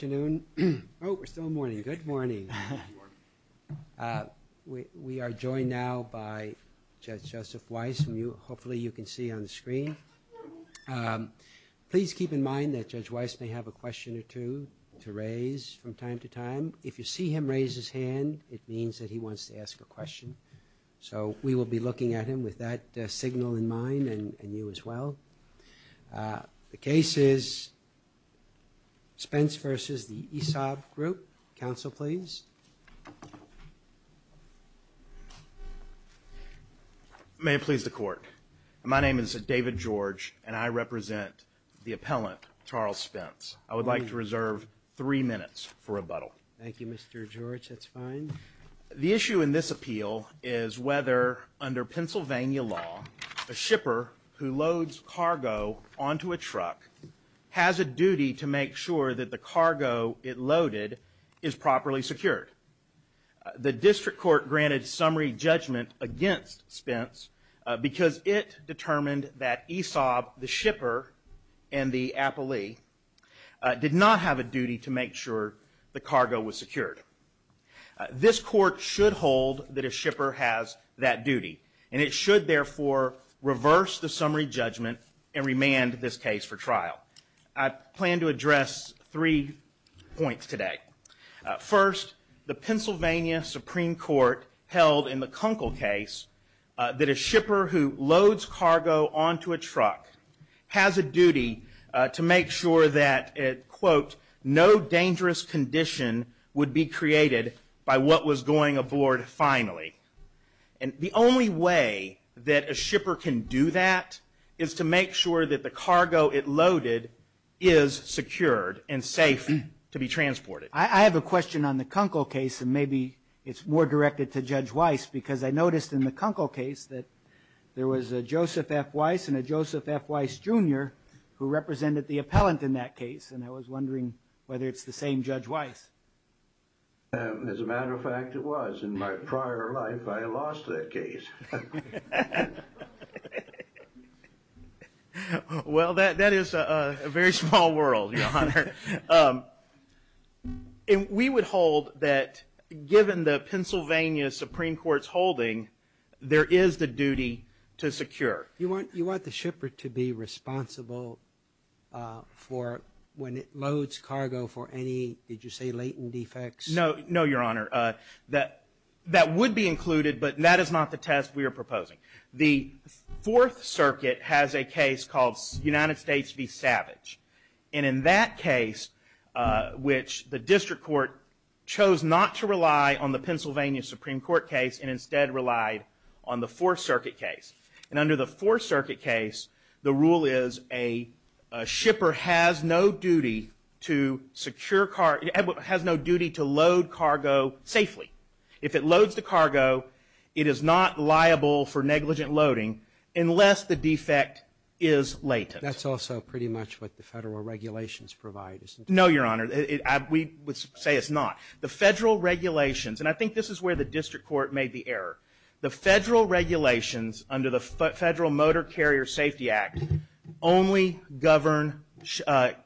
Good morning. We are joined now by Judge Joseph Weiss. Please keep in mind that Judge Weiss may have a question or two to raise from time to time. If you see him raise his hand, it means that he wants to ask a question. So we will be looking at him with that signal in mind, and you as well. The case is Spence v. The ESABGroup. Counsel, please. May it please the Court. My name is David George, and I represent the appellant, Charles Spence. I would like to reserve three minutes for rebuttal. Thank you, Mr. George. That's fine. The issue in this appeal is whether, under Pennsylvania law, a shipper who loads cargo onto a truck has a duty to make sure that the cargo it loaded is properly secured. The District Court granted summary judgment against Spence because it determined that ESAB, the shipper, and the appellee did not have a duty to make sure the cargo was secured. This Court should hold that a shipper has that duty, and it should, therefore, reverse the summary judgment and remand this case for trial. I plan to address three points today. First, the Pennsylvania Supreme Court held in the Kunkel case that a shipper who loads cargo onto a truck has a duty to make sure that no dangerous condition would be created by what was going aboard finally. The only way that a shipper can do that is to make sure that the cargo it loaded is secured and safe to be transported. I have a question on the Kunkel case, and maybe it's more directed to Judge Weiss, because I noticed in the Kunkel case that there was a Joseph F. Weiss and a Joseph F. Weiss Jr. who represented the appellant in that case, and I was wondering whether it's the same Judge Weiss. As a matter of fact, it was. In my prior life, I lost that case. Well, that is a very small world, Your Honor. We would hold that given the Pennsylvania Supreme Court's holding, there is the duty to secure. You want the shipper to be responsible for when it loads cargo for any, did you say, latent defects? No, Your Honor. That would be included, but that is not the test we are proposing. The Fourth Circuit has a case called United States v. Savage, and in that case, which the District Court chose not to rely on the Pennsylvania Supreme Court case and instead relied on the Fourth Circuit case, the rule is a shipper has no duty to secure cargo, has no duty to load cargo safely. If it loads the cargo, it is not liable for negligent loading unless the defect is latent. That's also pretty much what the federal regulations provide, isn't it? No, Your Honor. We would say it's not. The federal regulations, and I think this is where the District Court made the error, the federal regulations under the Federal Motor Carrier Safety Act only govern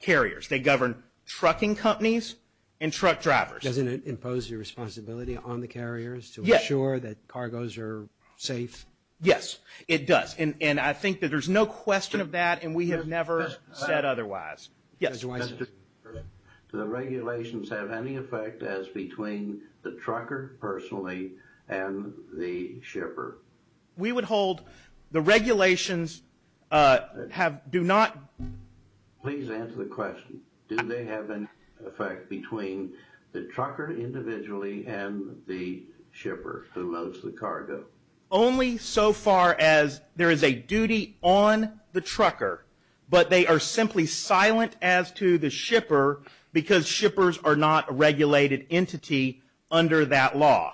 carriers. They govern trucking companies and truck drivers. Doesn't it impose your responsibility on the carriers to ensure that cargoes are safe? Yes, it does, and I think that there's no question of that, and we have never said otherwise. Mr. Cooper, do the regulations have any effect as between the trucker personally and the shipper? We would hold the regulations have, do not... Please answer the question. Do they have an effect between the trucker individually and the shipper who loads the cargo? Only so far as there is a duty on the trucker, but they are simply silent as to the shipper because shippers are not a regulated entity under that law.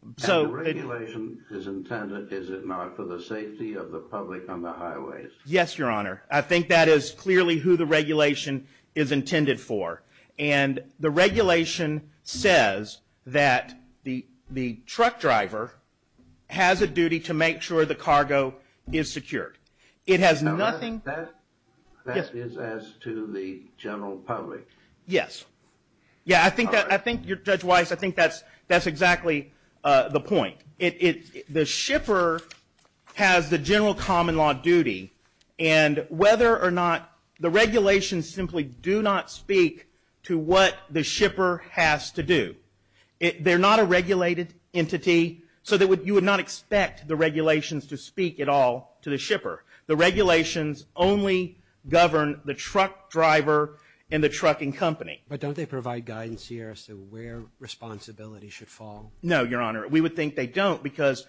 And the regulation is intended, is it not, for the safety of the public on the highways? Yes, Your Honor. I think that is clearly who the regulation is intended for, and the regulation says that the truck driver has a duty to make sure the cargo is secured. It has nothing... That is as to the general public. Yes. I think, Judge Weiss, I think that's exactly the point. The shipper has the general common law duty, and whether or not the regulations simply do not speak to what the shipper has to do. They're not a regulated entity, so you would not expect the regulations to speak at all to the shipper. The regulations only govern the truck driver and the trucking company. But don't they provide guidance here as to where responsibility should fall? No, Your Honor. We would think they don't because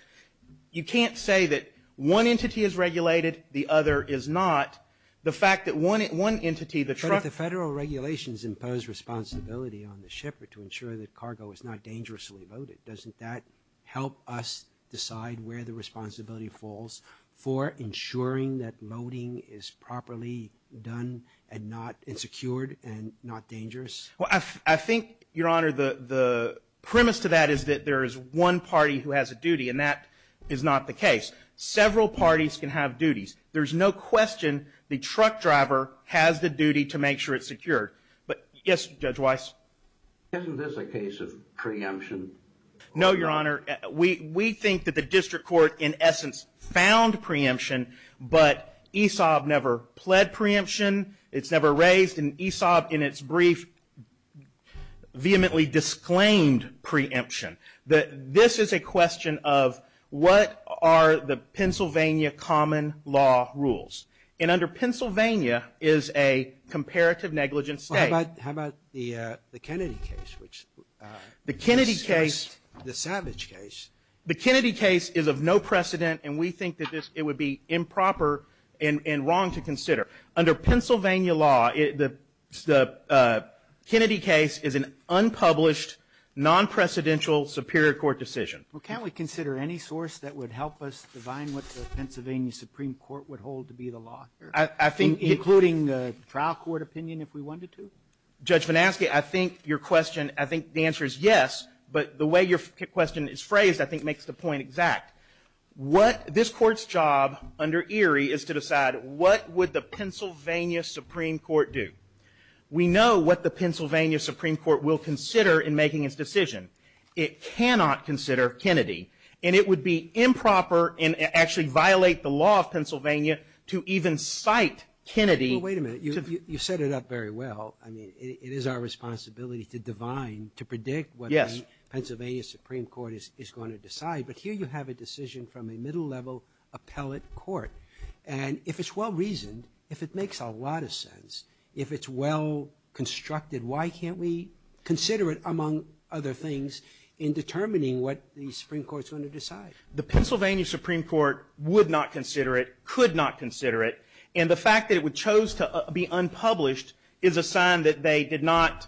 you can't say that one entity is regulated, the other is not. The fact that one entity, the truck... But if the federal regulations impose responsibility on the shipper to ensure that cargo is not dangerously loaded, doesn't that help us decide where the responsibility falls for ensuring that loading is properly done and not insecure and not dangerous? I think, Your Honor, the premise to that is that there is one party who has a duty, and that is not the case. Several parties can have duties. There's no question the truck driver has the duty to make sure it's secured. But, yes, Judge Weiss? Isn't this a case of preemption? No, Your Honor. We think that the district court, in essence, found preemption, but ESOP never pled preemption. It's never raised. And ESOP, in its brief, vehemently disclaimed preemption. This is a question of what are the Pennsylvania common law rules. And under Pennsylvania is a comparative negligence state. How about the Kennedy case? The Kennedy case... The savage case. The Kennedy case is of no precedent, and we think that it would be improper and wrong to consider. Under Pennsylvania law, the Kennedy case is an unpublished, non-precedential superior court decision. Well, can't we consider any source that would help us define what the Pennsylvania Supreme Court would hold to be the law? I think... Including the trial court opinion, if we wanted to? Judge Vanaski, I think your question, I think the answer is yes, but the way your question is phrased, I think, makes the point exact. What this court's job under Erie is to decide what would the Pennsylvania Supreme Court do. We know what the Pennsylvania Supreme Court will consider in making its decision. It cannot consider Kennedy. And it would be improper and actually violate the law of Pennsylvania to even cite Kennedy. Well, wait a minute. You set it up very well. I mean, it is our responsibility to divine, to predict what the Pennsylvania Supreme Court is going to decide. But here you have a decision from a middle-level appellate court. And if it's well-reasoned, if it makes a lot of sense, if it's well-constructed, why can't we consider it, among other things, in determining what the Supreme Court's going to decide? The Pennsylvania Supreme Court would not consider it, could not consider it. And the fact that it chose to be unpublished is a sign that they did not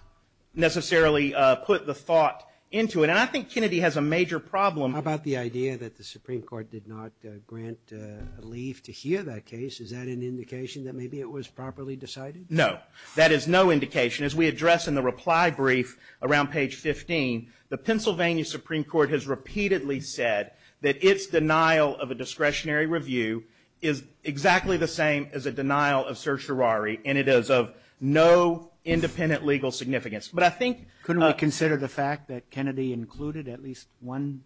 necessarily put the thought into it. And I think Kennedy has a major problem. How about the idea that the Supreme Court did not grant a leave to hear that case? Is that an indication that maybe it was properly decided? No. That is no indication. As we address in the reply brief around page 15, the Pennsylvania Supreme Court has repeatedly said that its denial of a discretionary review is exactly the same as a denial of certiorari, and it is of no independent legal significance. But I think – Couldn't we consider the fact that Kennedy included at least one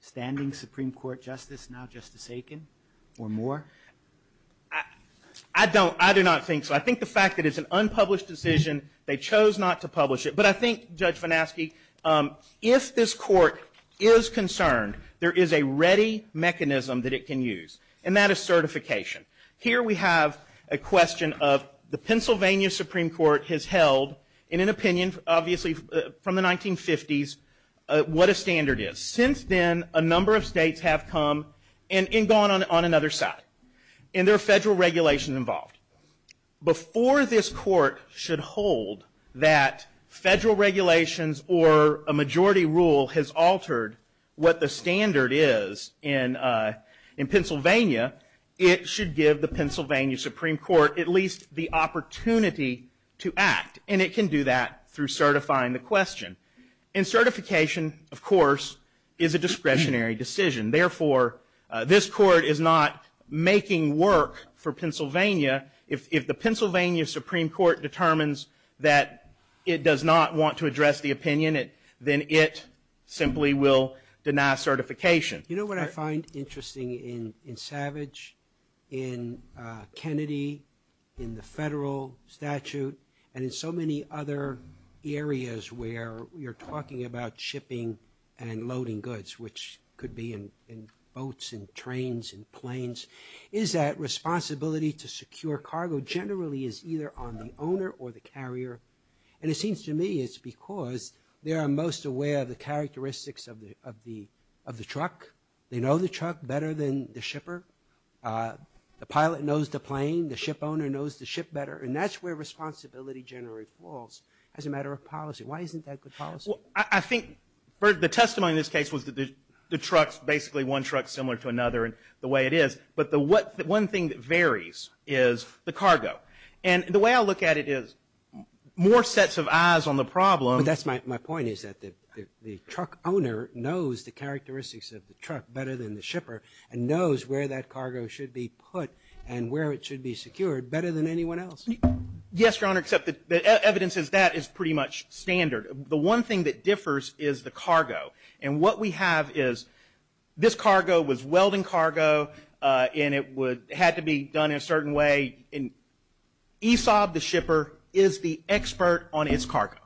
standing Supreme Court justice, now Justice Aiken, or more? I don't – I do not think so. I think the fact that it's an unpublished decision, they chose not to publish it. But I think, Judge Venaske, if this court is concerned, there is a ready mechanism that it can use, and that is certification. Here we have a question of the Pennsylvania Supreme Court has held, in an opinion, obviously, from the 1950s, what a standard is. Since then, a number of states have come and gone on another side, and there are federal regulations involved. Before this court should hold that federal regulations or a majority rule has altered what the standard is in Pennsylvania, it should give the Pennsylvania Supreme Court at least the opportunity to act, and it can do that through certifying the question. And certification, of course, is a discretionary decision. Therefore, this court is not making work for Pennsylvania. If the Pennsylvania Supreme Court determines that it does not want to address the opinion, then it simply will deny certification. You know what I find interesting in Savage, in Kennedy, in the federal statute, and in so many other areas where you're talking about shipping and loading goods, which could be in boats and trains and planes, is that responsibility to secure cargo generally is either on the owner or the carrier. And it seems to me it's because they are most aware of the characteristics of the truck. They know the truck better than the shipper. The pilot knows the plane. The ship owner knows the ship better. And that's where responsibility generally falls as a matter of policy. Why isn't that good policy? I think the testimony in this case was that the truck's basically one truck similar to another and the way it is. But the one thing that varies is the cargo. And the way I look at it is more sets of eyes on the problem. But that's my point, is that the truck owner knows the characteristics of the truck better than the shipper and knows where that cargo should be put and where it should be secured better than anyone else. Yes, Your Honor, except the evidence is that is pretty much standard. The one thing that differs is the cargo. And what we have is this cargo was welding cargo and it had to be done in a certain way. And ESAB, the shipper, is the expert on its cargo.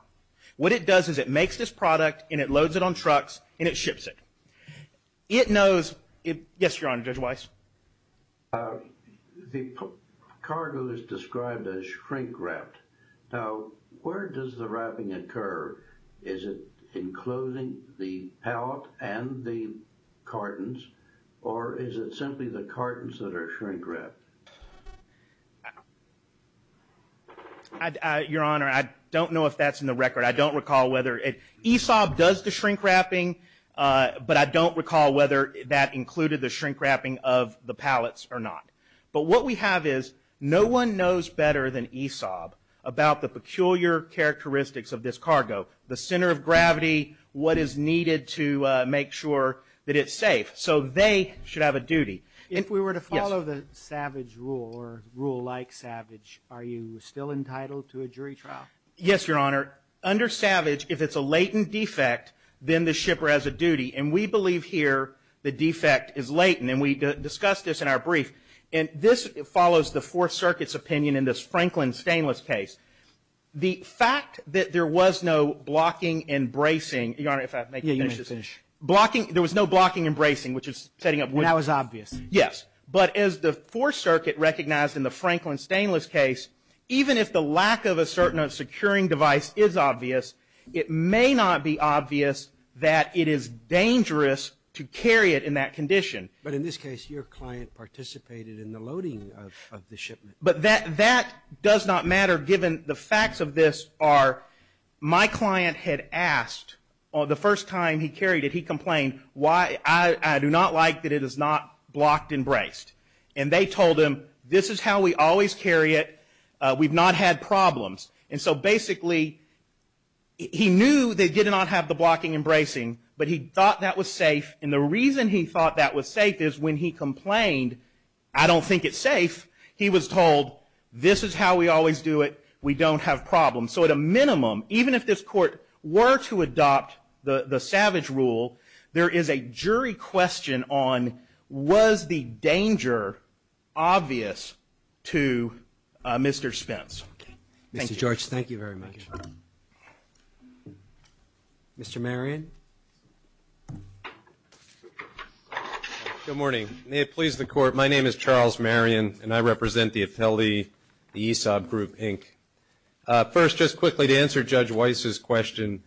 What it does is it makes this product and it loads it on trucks and it ships it. It knows... Yes, Your Honor, Judge Weiss? The cargo is described as shrink-wrapped. Now, where does the wrapping occur? Is it including the pallet and the cartons? Or is it simply the cartons that are shrink-wrapped? Your Honor, I don't know if that's in the record. I don't recall whether... ESAB does the shrink-wrapping, but I don't recall whether that included the shrink-wrapping of the pallets or not. But what we have is no one knows better than ESAB about the peculiar characteristics of this cargo, the center of gravity, what is needed to make sure that it's safe. So they should have a duty. If we were to follow the SAVAGE rule or rule like SAVAGE, are you still entitled to a jury trial? Yes, Your Honor. Under SAVAGE, if it's a latent defect, then the shipper has a duty. And we believe here the defect is latent. And we discussed this in our brief. And this follows the Fourth Circuit's opinion in this Franklin Stainless case. The fact that there was no blocking and bracing... Your Honor, if I may... Yeah, you may finish. Blocking... There was no blocking and bracing, which is setting up... And that was obvious. Yes. But as the Fourth Circuit recognized in the Franklin Stainless case, even if the securing device is obvious, it may not be obvious that it is dangerous to carry it in that condition. But in this case, your client participated in the loading of the shipment. But that does not matter given the facts of this are my client had asked, the first time he carried it, he complained, I do not like that it is not blocked and braced. And they told him, this is how we always carry it. We've not had problems. And so basically he knew they did not have the blocking and bracing. But he thought that was safe. And the reason he thought that was safe is when he complained, I don't think it's safe, he was told, this is how we always do it. We don't have problems. So at a minimum, even if this court were to adopt the SAVAGE rule, there is a jury question on was the danger obvious to Mr. Spence. Mr. George, thank you very much. Mr. Marion? Good morning. May it please the Court, my name is Charles Marion and I represent the Atelier, the Aesop Group, Inc. First, just quickly to answer Judge Weiss's question,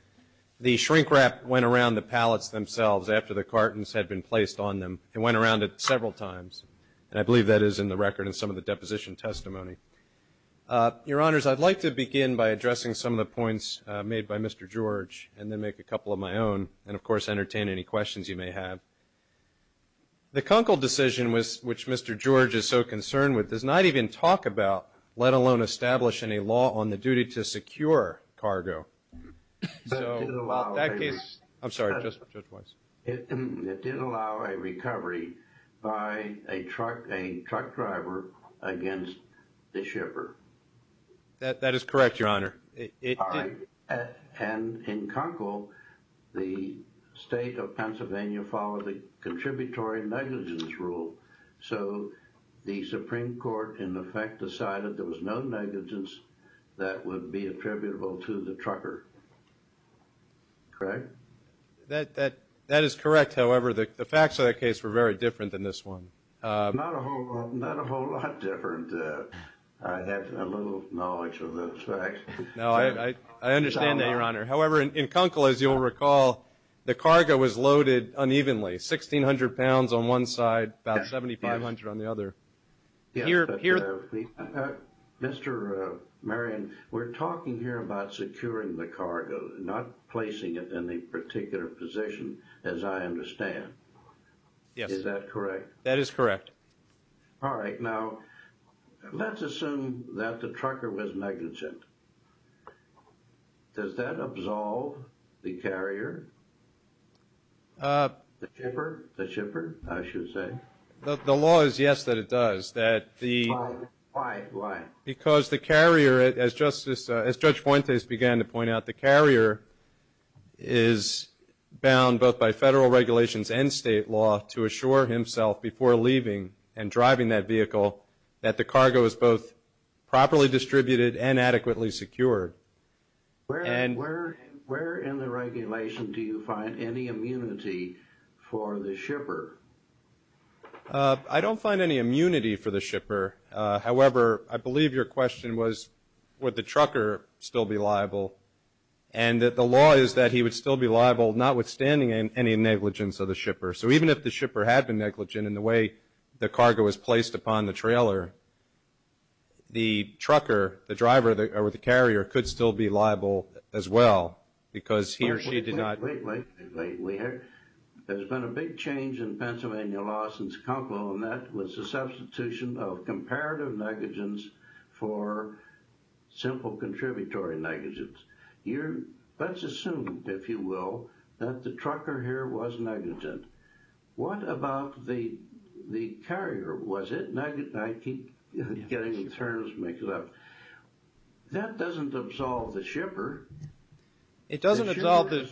the shrink wrap went around the cargo that had been placed on them. It went around it several times. And I believe that is in the record in some of the deposition testimony. Your Honors, I'd like to begin by addressing some of the points made by Mr. George and then make a couple of my own and, of course, entertain any questions you may have. The Kunkel decision, which Mr. George is so concerned with, does not even talk about, let alone establish, any law on the duty to secure cargo. It did allow a recovery by a truck driver against the shipper. That is correct, Your Honor. And in Kunkel, the State of Pennsylvania followed the Contributory Negligence Rule. So the Supreme Court, in effect, decided there was no negligence that would be attributable to the trucker. Correct? That is correct. However, the facts of that case were very different than this one. Not a whole lot different. I had little knowledge of those facts. No, I understand that, Your Honor. However, in Kunkel, as you'll recall, the cargo was loaded unevenly, 1,600 pounds on one side, about 7,500 on the other. Yes, but, Mr. Marion, we're talking here about securing the cargo, not placing it in a particular position, as I understand. Yes. Is that correct? That is correct. All right. Now, let's assume that the trucker was negligent. Does that absolve the carrier? The shipper? The shipper, I should say. The law is, yes, that it does. Why? Why? Because the carrier, as Judge Fuentes began to point out, the carrier is bound both by federal regulations and state law to assure himself before leaving and driving that vehicle that the cargo is both properly distributed and adequately secured. Where in the regulation do you find any immunity for the shipper? I don't find any immunity for the shipper. However, I believe your question was, would the trucker still be liable? And the law is that he would still be liable, notwithstanding any negligence of the shipper. So even if the shipper had been negligent in the way the cargo was placed upon the trailer, the trucker, the driver or the carrier could still be liable as well because he or she did not... We have... There's been a big change in Pennsylvania law since Conquo and that was the substitution of comparative negligence for simple contributory negligence. Let's assume, if you will, that the trucker here was negligent. What about the carrier? Was it negligent? I keep getting the terms mixed up. That doesn't absolve the shipper. It doesn't absolve the...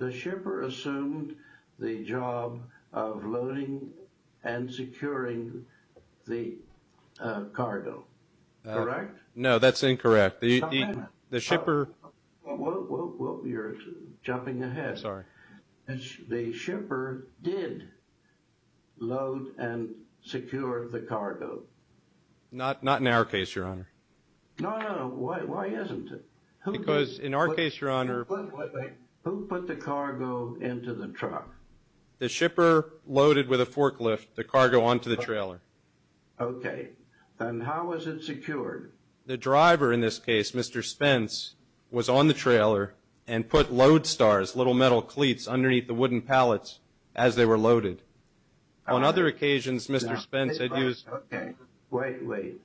The shipper assumed the job of loading and securing the cargo, correct? No, that's incorrect. The shipper... You're jumping ahead. Sorry. The shipper did load and secure the cargo. Not in our case, Your Honor. No, no, why isn't it? Because in our case, Your Honor... Who put the cargo into the truck? The shipper loaded with a forklift the cargo onto the trailer. Okay, then how was it secured? The driver, in this case, Mr. Spence, was on the trailer and put load stars, little metal cleats underneath the wooden pallets as they were loaded. On other occasions, Mr. Spence had used... Okay, wait, wait.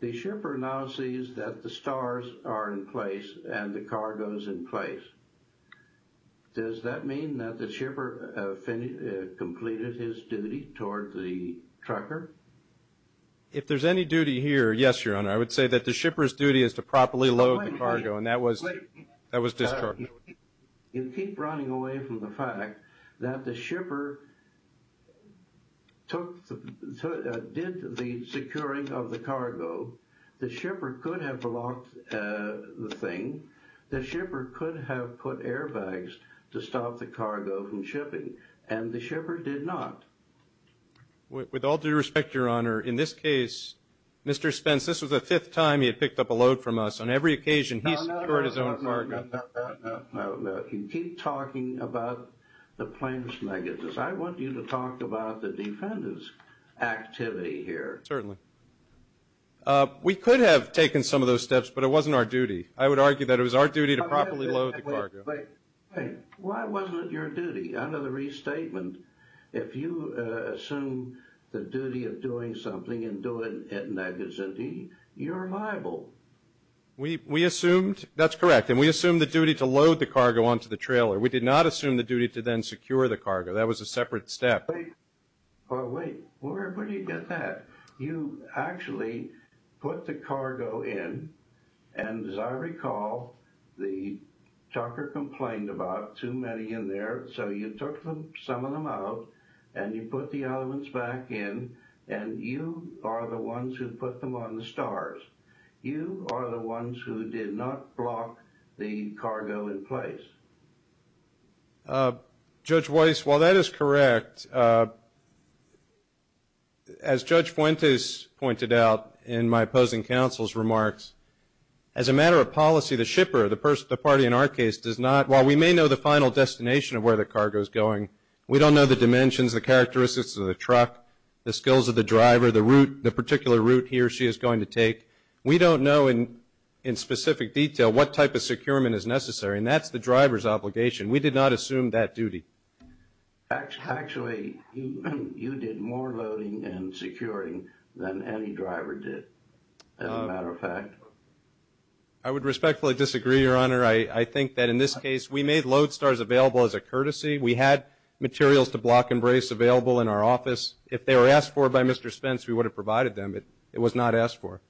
The shipper now sees that the stars are in place and the cargo is in place. Does that mean that the shipper completed his duty toward the trucker? If there's any duty here, yes, Your Honor. I would say that the shipper's duty is to properly load the cargo and that was discharged. You keep running away from the fact that the shipper took the... did the securing of the cargo. The shipper could have blocked the thing. The shipper could have put airbags to stop the cargo from shipping and the shipper did not. With all due respect, Your Honor, in this case, Mr. Spence, this was the fifth time he had picked up a load from us. On every occasion, he secured his own cargo. No, no, no, no, no, no, no. You keep talking about the plaintiff's negatives. I want you to talk about the defendant's activity here. Certainly. We could have taken some of those steps, but it wasn't our duty. I would argue that it was our duty to properly load the cargo. Wait, wait, wait. Why wasn't it your duty? Under the restatement, if you assume the duty of doing something and doing it negatively, you're liable. We assumed... That's correct. And we assumed the duty to load the cargo onto the trailer. We did not assume the duty to then secure the cargo. That was a separate step. But wait, where do you get that? You actually put the cargo in, and as I recall, the talker complained about too many in there, so you took some of them out and you put the elements back in, and you are the ones who put them on the stars. You are the ones who did not block the cargo in place. Judge Weiss, while that is correct, as Judge Fuentes pointed out in my opposing counsel's remarks, as a matter of policy, the shipper, the party in our case, does not... While we may know the final destination of where the cargo is going, we don't know the dimensions, the characteristics of the truck, the skills of the driver, the route, the particular route he or she is going to take. We don't know in specific detail what type of securement is necessary, and that's the obligation. We did not assume that duty. Actually, you did more loading and securing than any driver did, as a matter of fact. I would respectfully disagree, Your Honor. I think that in this case, we made load stars available as a courtesy. We had materials to block and brace available in our office. If they were asked for by Mr. Spence, we would have provided them, but it was not asked for.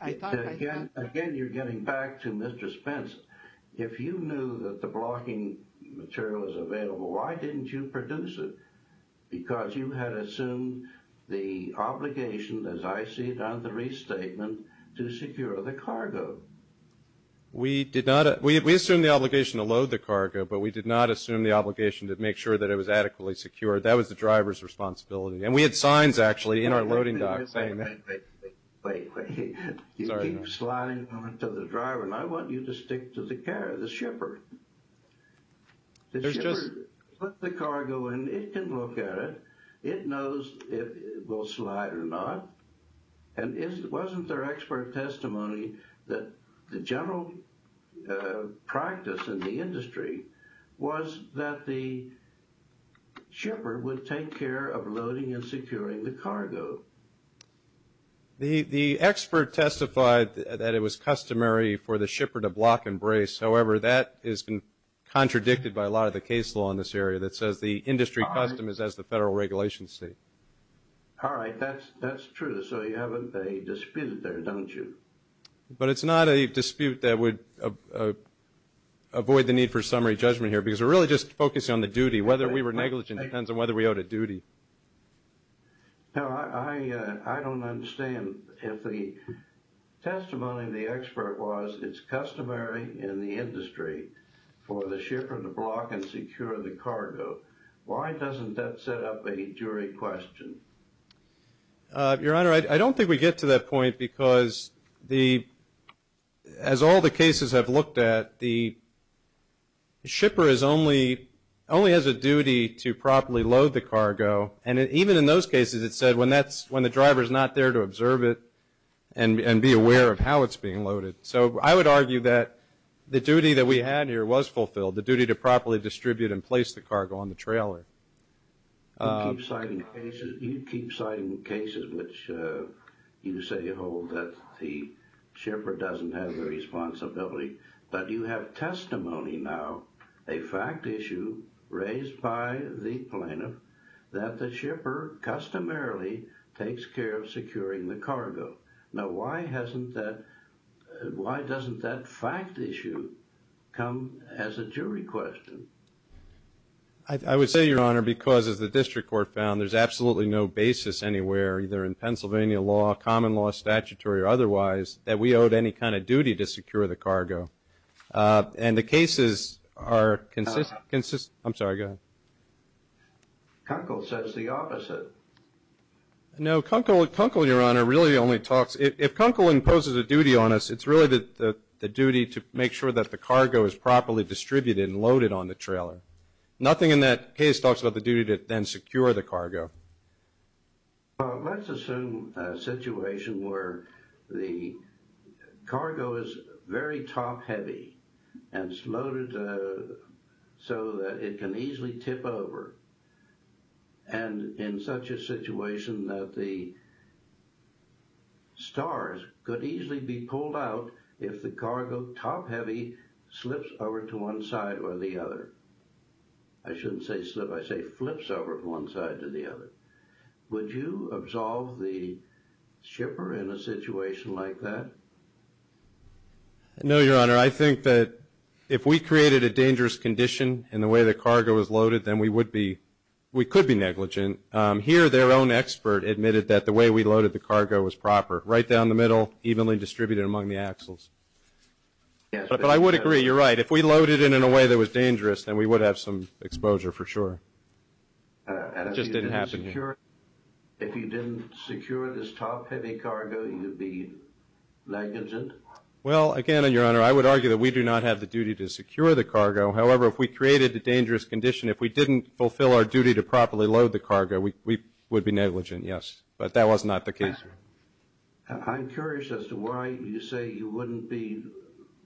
Again, you're getting back to Mr. Spence. If you knew that the blocking material was available, why didn't you produce it? Because you had assumed the obligation, as I see it on the restatement, to secure the cargo. We did not... We assumed the obligation to load the cargo, but we did not assume the obligation to make sure that it was adequately secured. That was the driver's responsibility, and we had signs, actually, in our loading dock saying that... Wait, wait, wait, wait, wait. You keep sliding on to the driver, and I want you to stick to the carrier, the shipper. The shipper put the cargo in. It can look at it. It knows if it will slide or not, and wasn't there expert testimony that the general practice in the industry was that the shipper would take care of loading and securing the cargo? The expert testified that it was customary for the shipper to block and brace. However, that has been contradicted by a lot of the case law in this area that says the industry custom is as the federal regulations say. All right. That's true. So you have a dispute there, don't you? But it's not a dispute that would avoid the need for summary judgment here, because we're really just focusing on the duty. Whether we were negligent depends on whether we owed a duty. Now, I don't understand if the testimony of the expert was it's customary in the industry for the shipper to block and secure the cargo. Why doesn't that set up a jury question? Your Honor, I don't think we get to that point, because as all the cases I've looked at, the And even in those cases, it said when the driver's not there to observe it and be aware of how it's being loaded. So I would argue that the duty that we had here was fulfilled, the duty to properly distribute and place the cargo on the trailer. You keep citing cases which you say hold that the shipper doesn't have the responsibility, but you have testimony now, a fact issue raised by the plaintiff, that the shipper customarily takes care of securing the cargo. Now, why doesn't that fact issue come as a jury question? I would say, Your Honor, because as the district court found, there's absolutely no basis anywhere, either in Pennsylvania law, common law, statutory, or otherwise, that we owed any kind of duty to secure the cargo. And the cases are consistent... I'm sorry, go ahead. Kunkel says the opposite. No, Kunkel, Your Honor, really only talks... If Kunkel imposes a duty on us, it's really the duty to make sure that the cargo is properly distributed and loaded on the trailer. Nothing in that case talks about the duty to then secure the cargo. Well, let's assume a situation where the cargo is very top-heavy and it's loaded so that it can easily tip over, and in such a situation that the stars could easily be pulled out if the cargo, top-heavy, slips over to one side or the other. I shouldn't say slip, I say flips over from one side to the other. Would you absolve the shipper in a situation like that? No, Your Honor. I think that if we created a dangerous condition in the way the cargo was loaded, then we would be... we could be negligent. Here, their own expert admitted that the way we loaded the cargo was proper, right down the middle, evenly distributed among the axles. But I would agree, you're right. If we loaded it in a way that was dangerous, then we would have some exposure for sure. And if you didn't secure this top-heavy cargo, you'd be negligent? Well, again, Your Honor, I would argue that we do not have the duty to secure the cargo. However, if we created a dangerous condition, if we didn't fulfill our duty to properly load the cargo, we would be negligent, yes. But that was not the case. I'm curious as to why you say you wouldn't be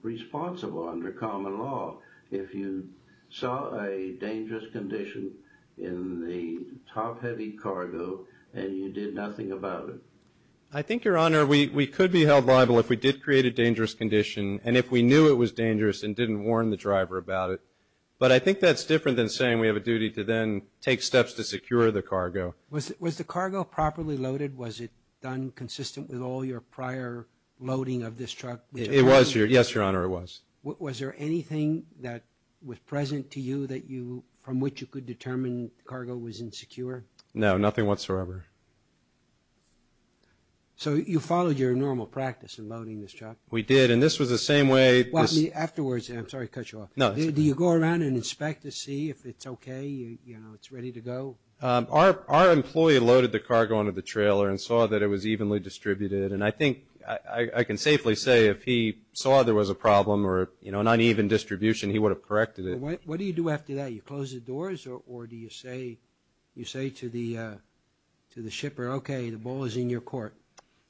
responsible under common law if you saw a dangerous condition in the top-heavy cargo and you did nothing about it? I think, Your Honor, we could be held liable if we did create a dangerous condition and if we knew it was dangerous and didn't warn the driver about it. But I think that's different than saying we have a duty to then take steps to secure the cargo. Was the cargo properly loaded? Was it done consistent with all your prior loading of this truck? It was, Your Honor. Yes, Your Honor, it was. Was there anything that was present to you from which you could determine the cargo was insecure? No, nothing whatsoever. So you followed your normal practice in loading this truck? We did. And this was the same way... Afterwards, I'm sorry to cut you off. No, it's okay. Do you go around and inspect to see if it's okay, you know, it's ready to go? Our employee loaded the cargo onto the trailer and saw that it was evenly distributed. And I think I can safely say if he saw there was a problem or, you know, an uneven distribution, he would have corrected it. What do you do after that? You close the doors or do you say to the shipper, okay, the ball is in your court?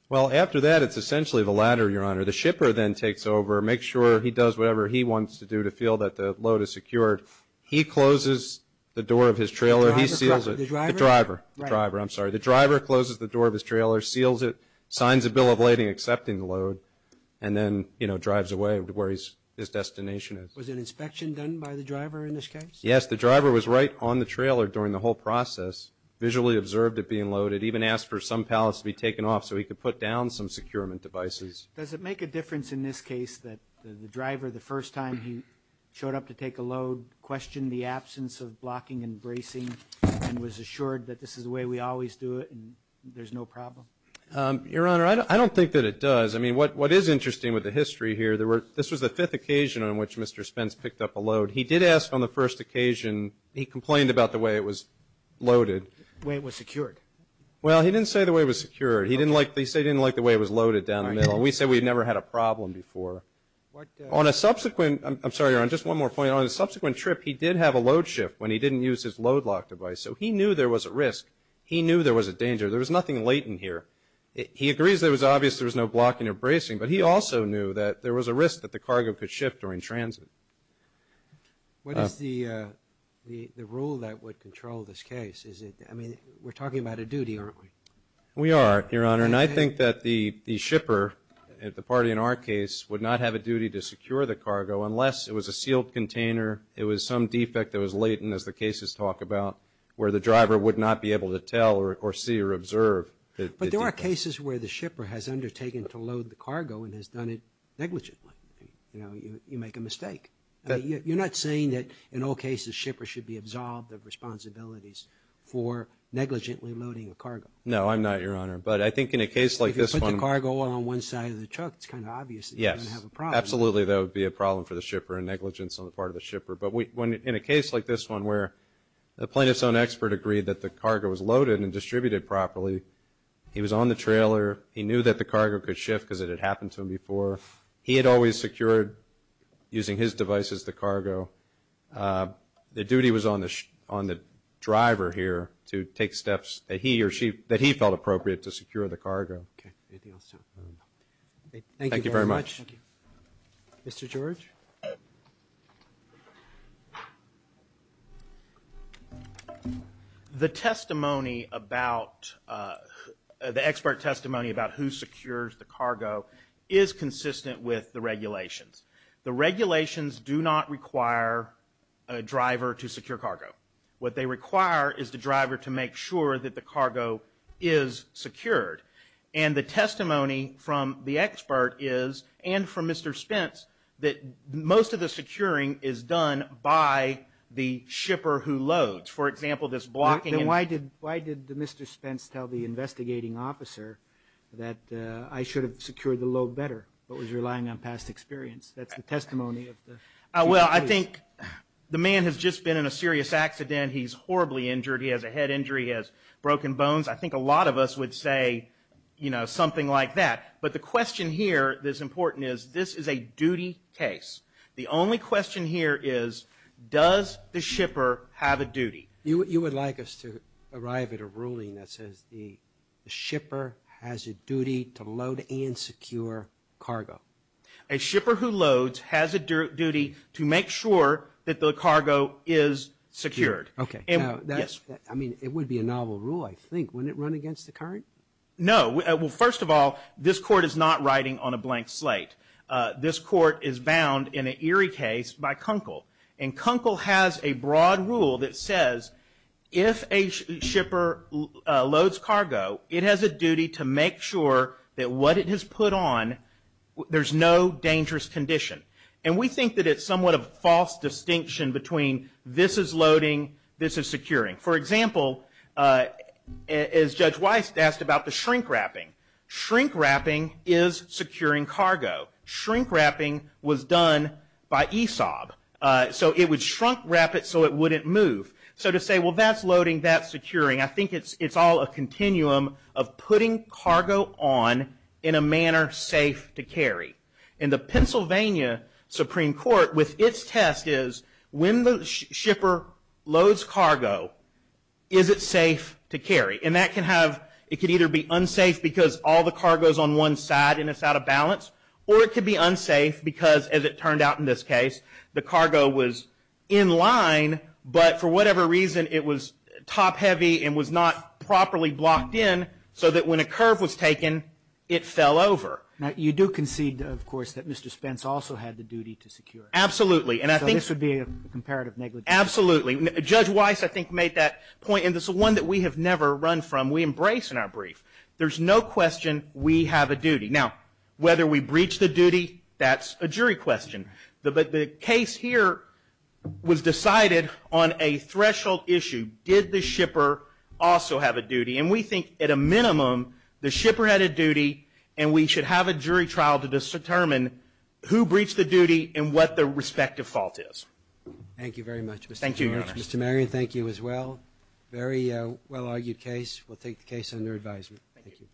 Well, after that, it's essentially the latter, Your Honor. The shipper then takes over, makes sure he does whatever he wants to do to feel that the load is secured. He closes the door of his trailer. He seals it. The driver? The driver. The driver, I'm sorry. The driver closes the door of his trailer, seals it, signs a bill of lading accepting the load, and then, you know, drives away to where his destination is. Was an inspection done by the driver in this case? Yes. The driver was right on the trailer during the whole process, visually observed it being loaded, even asked for some pallets to be taken off so he could put down some securement devices. Does it make a difference in this case that the driver, the first time he showed up to take a load, questioned the absence of blocking and bracing and was assured that this is the way we always do it and there's no problem? Your Honor, I don't think that it does. I mean, what is interesting with the history here, there were, this was the fifth occasion on which Mr. Spence picked up a load. He did ask on the first occasion, he complained about the way it was loaded. The way it was secured. Well, he didn't say the way it was secured. He didn't like, he said he didn't like the way it was loaded down the middle. We said we'd never had a problem before. On a subsequent, I'm sorry, Your Honor, just one more point. On a subsequent trip, he did have a load shift when he didn't use his load lock device. So he knew there was a risk. He knew there was a danger. There was nothing latent here. He agrees that it was obvious there was no blocking or bracing, but he also knew that there was a risk that the cargo could shift during transit. What is the rule that would control this case? Is it, I mean, we're talking about a duty, aren't we? We are, Your Honor, and I think that the shipper, the party in our case, would not have a duty to secure the cargo unless it was a sealed container, it was some defect that was latent, as the cases talk about, where the driver would not be able to tell or see or observe. But there are cases where the shipper has undertaken to load the cargo and has done it negligently. You know, you make a mistake. You're not saying that, in all cases, shippers should be absolved of responsibilities for negligently loading a cargo. No, I'm not, Your Honor. But I think in a case like this one. If you put the cargo on one side of the truck, it's kind of obvious that you're going to have a problem. Absolutely, there would be a problem for the shipper and negligence on the part of the shipper. But in a case like this one where the plaintiff's own expert agreed that the cargo was loaded and distributed properly, he was on the trailer, he knew that the cargo could shift because it had happened to him before, he had always secured, using his devices, the cargo. The duty was on the driver here to take steps that he or she, that he felt appropriate to secure the cargo. Okay, anything else? Thank you very much. Mr. George? The testimony about, the expert testimony about who secures the cargo is consistent with the regulations. The regulations do not require a driver to secure cargo. What they require is the driver to make sure that the cargo is secured. And the testimony from the expert is, and from Mr. Spence, that most of the securing is done by the shipper who loads. For example, this blocking... Then why did Mr. Spence tell the investigating officer that I should have secured the load better, but was relying on past experience? That's the testimony of the... Well, I think the man has just been in a serious accident. He's horribly injured. He has a head injury, he has broken bones. I think a lot of us would say, you know, something like that. But the question here that's important is, this is a duty case. The only question here is, does the shipper have a duty? You would like us to arrive at a ruling that says the shipper has a duty to load and secure cargo. A shipper who loads has a duty to make sure that the cargo is secured. Now, I mean, it would be a novel rule, I think. Wouldn't it run against the current? No. Well, first of all, this court is not writing on a blank slate. This court is bound in an Erie case by Kunkel. And Kunkel has a broad rule that says, if a shipper loads cargo, it has a duty to make sure that what it has put on, there's no dangerous condition. And we think that it's somewhat of a false distinction between, this is loading, this is securing. For example, as Judge Weiss asked about the shrink wrapping. Shrink wrapping is securing cargo. Shrink wrapping was done by ESOB. So it would shrunk wrap it so it wouldn't move. So to say, well, that's loading, that's securing. I think it's all a continuum of putting cargo on in a manner safe to carry. And the Pennsylvania Supreme Court, with its test is, when the shipper loads cargo, is it safe to carry? And that can have, it could either be unsafe because all the cargo is on one side and it's out of balance, or it could be unsafe because, as it turned out in this case, the cargo was in line, but for whatever reason, it was top heavy and was not properly blocked in so that when a curve was taken, it fell over. Now, you do concede, of course, that Mr. Spence also had the duty to secure. Absolutely. So this would be a comparative negligence. Absolutely. Judge Weiss, I think, made that point. And this is one that we have never run from. We embrace in our brief. There's no question we have a duty. Now, whether we breach the duty, that's a jury question. Did the shipper also have a duty? And we think, at a minimum, the shipper had a duty, and we should have a jury trial to determine who breached the duty and what the respective fault is. Thank you very much. Thank you, Your Honor. Mr. Marion, thank you as well. Very well-argued case. We'll take the case under advisement. Thank you.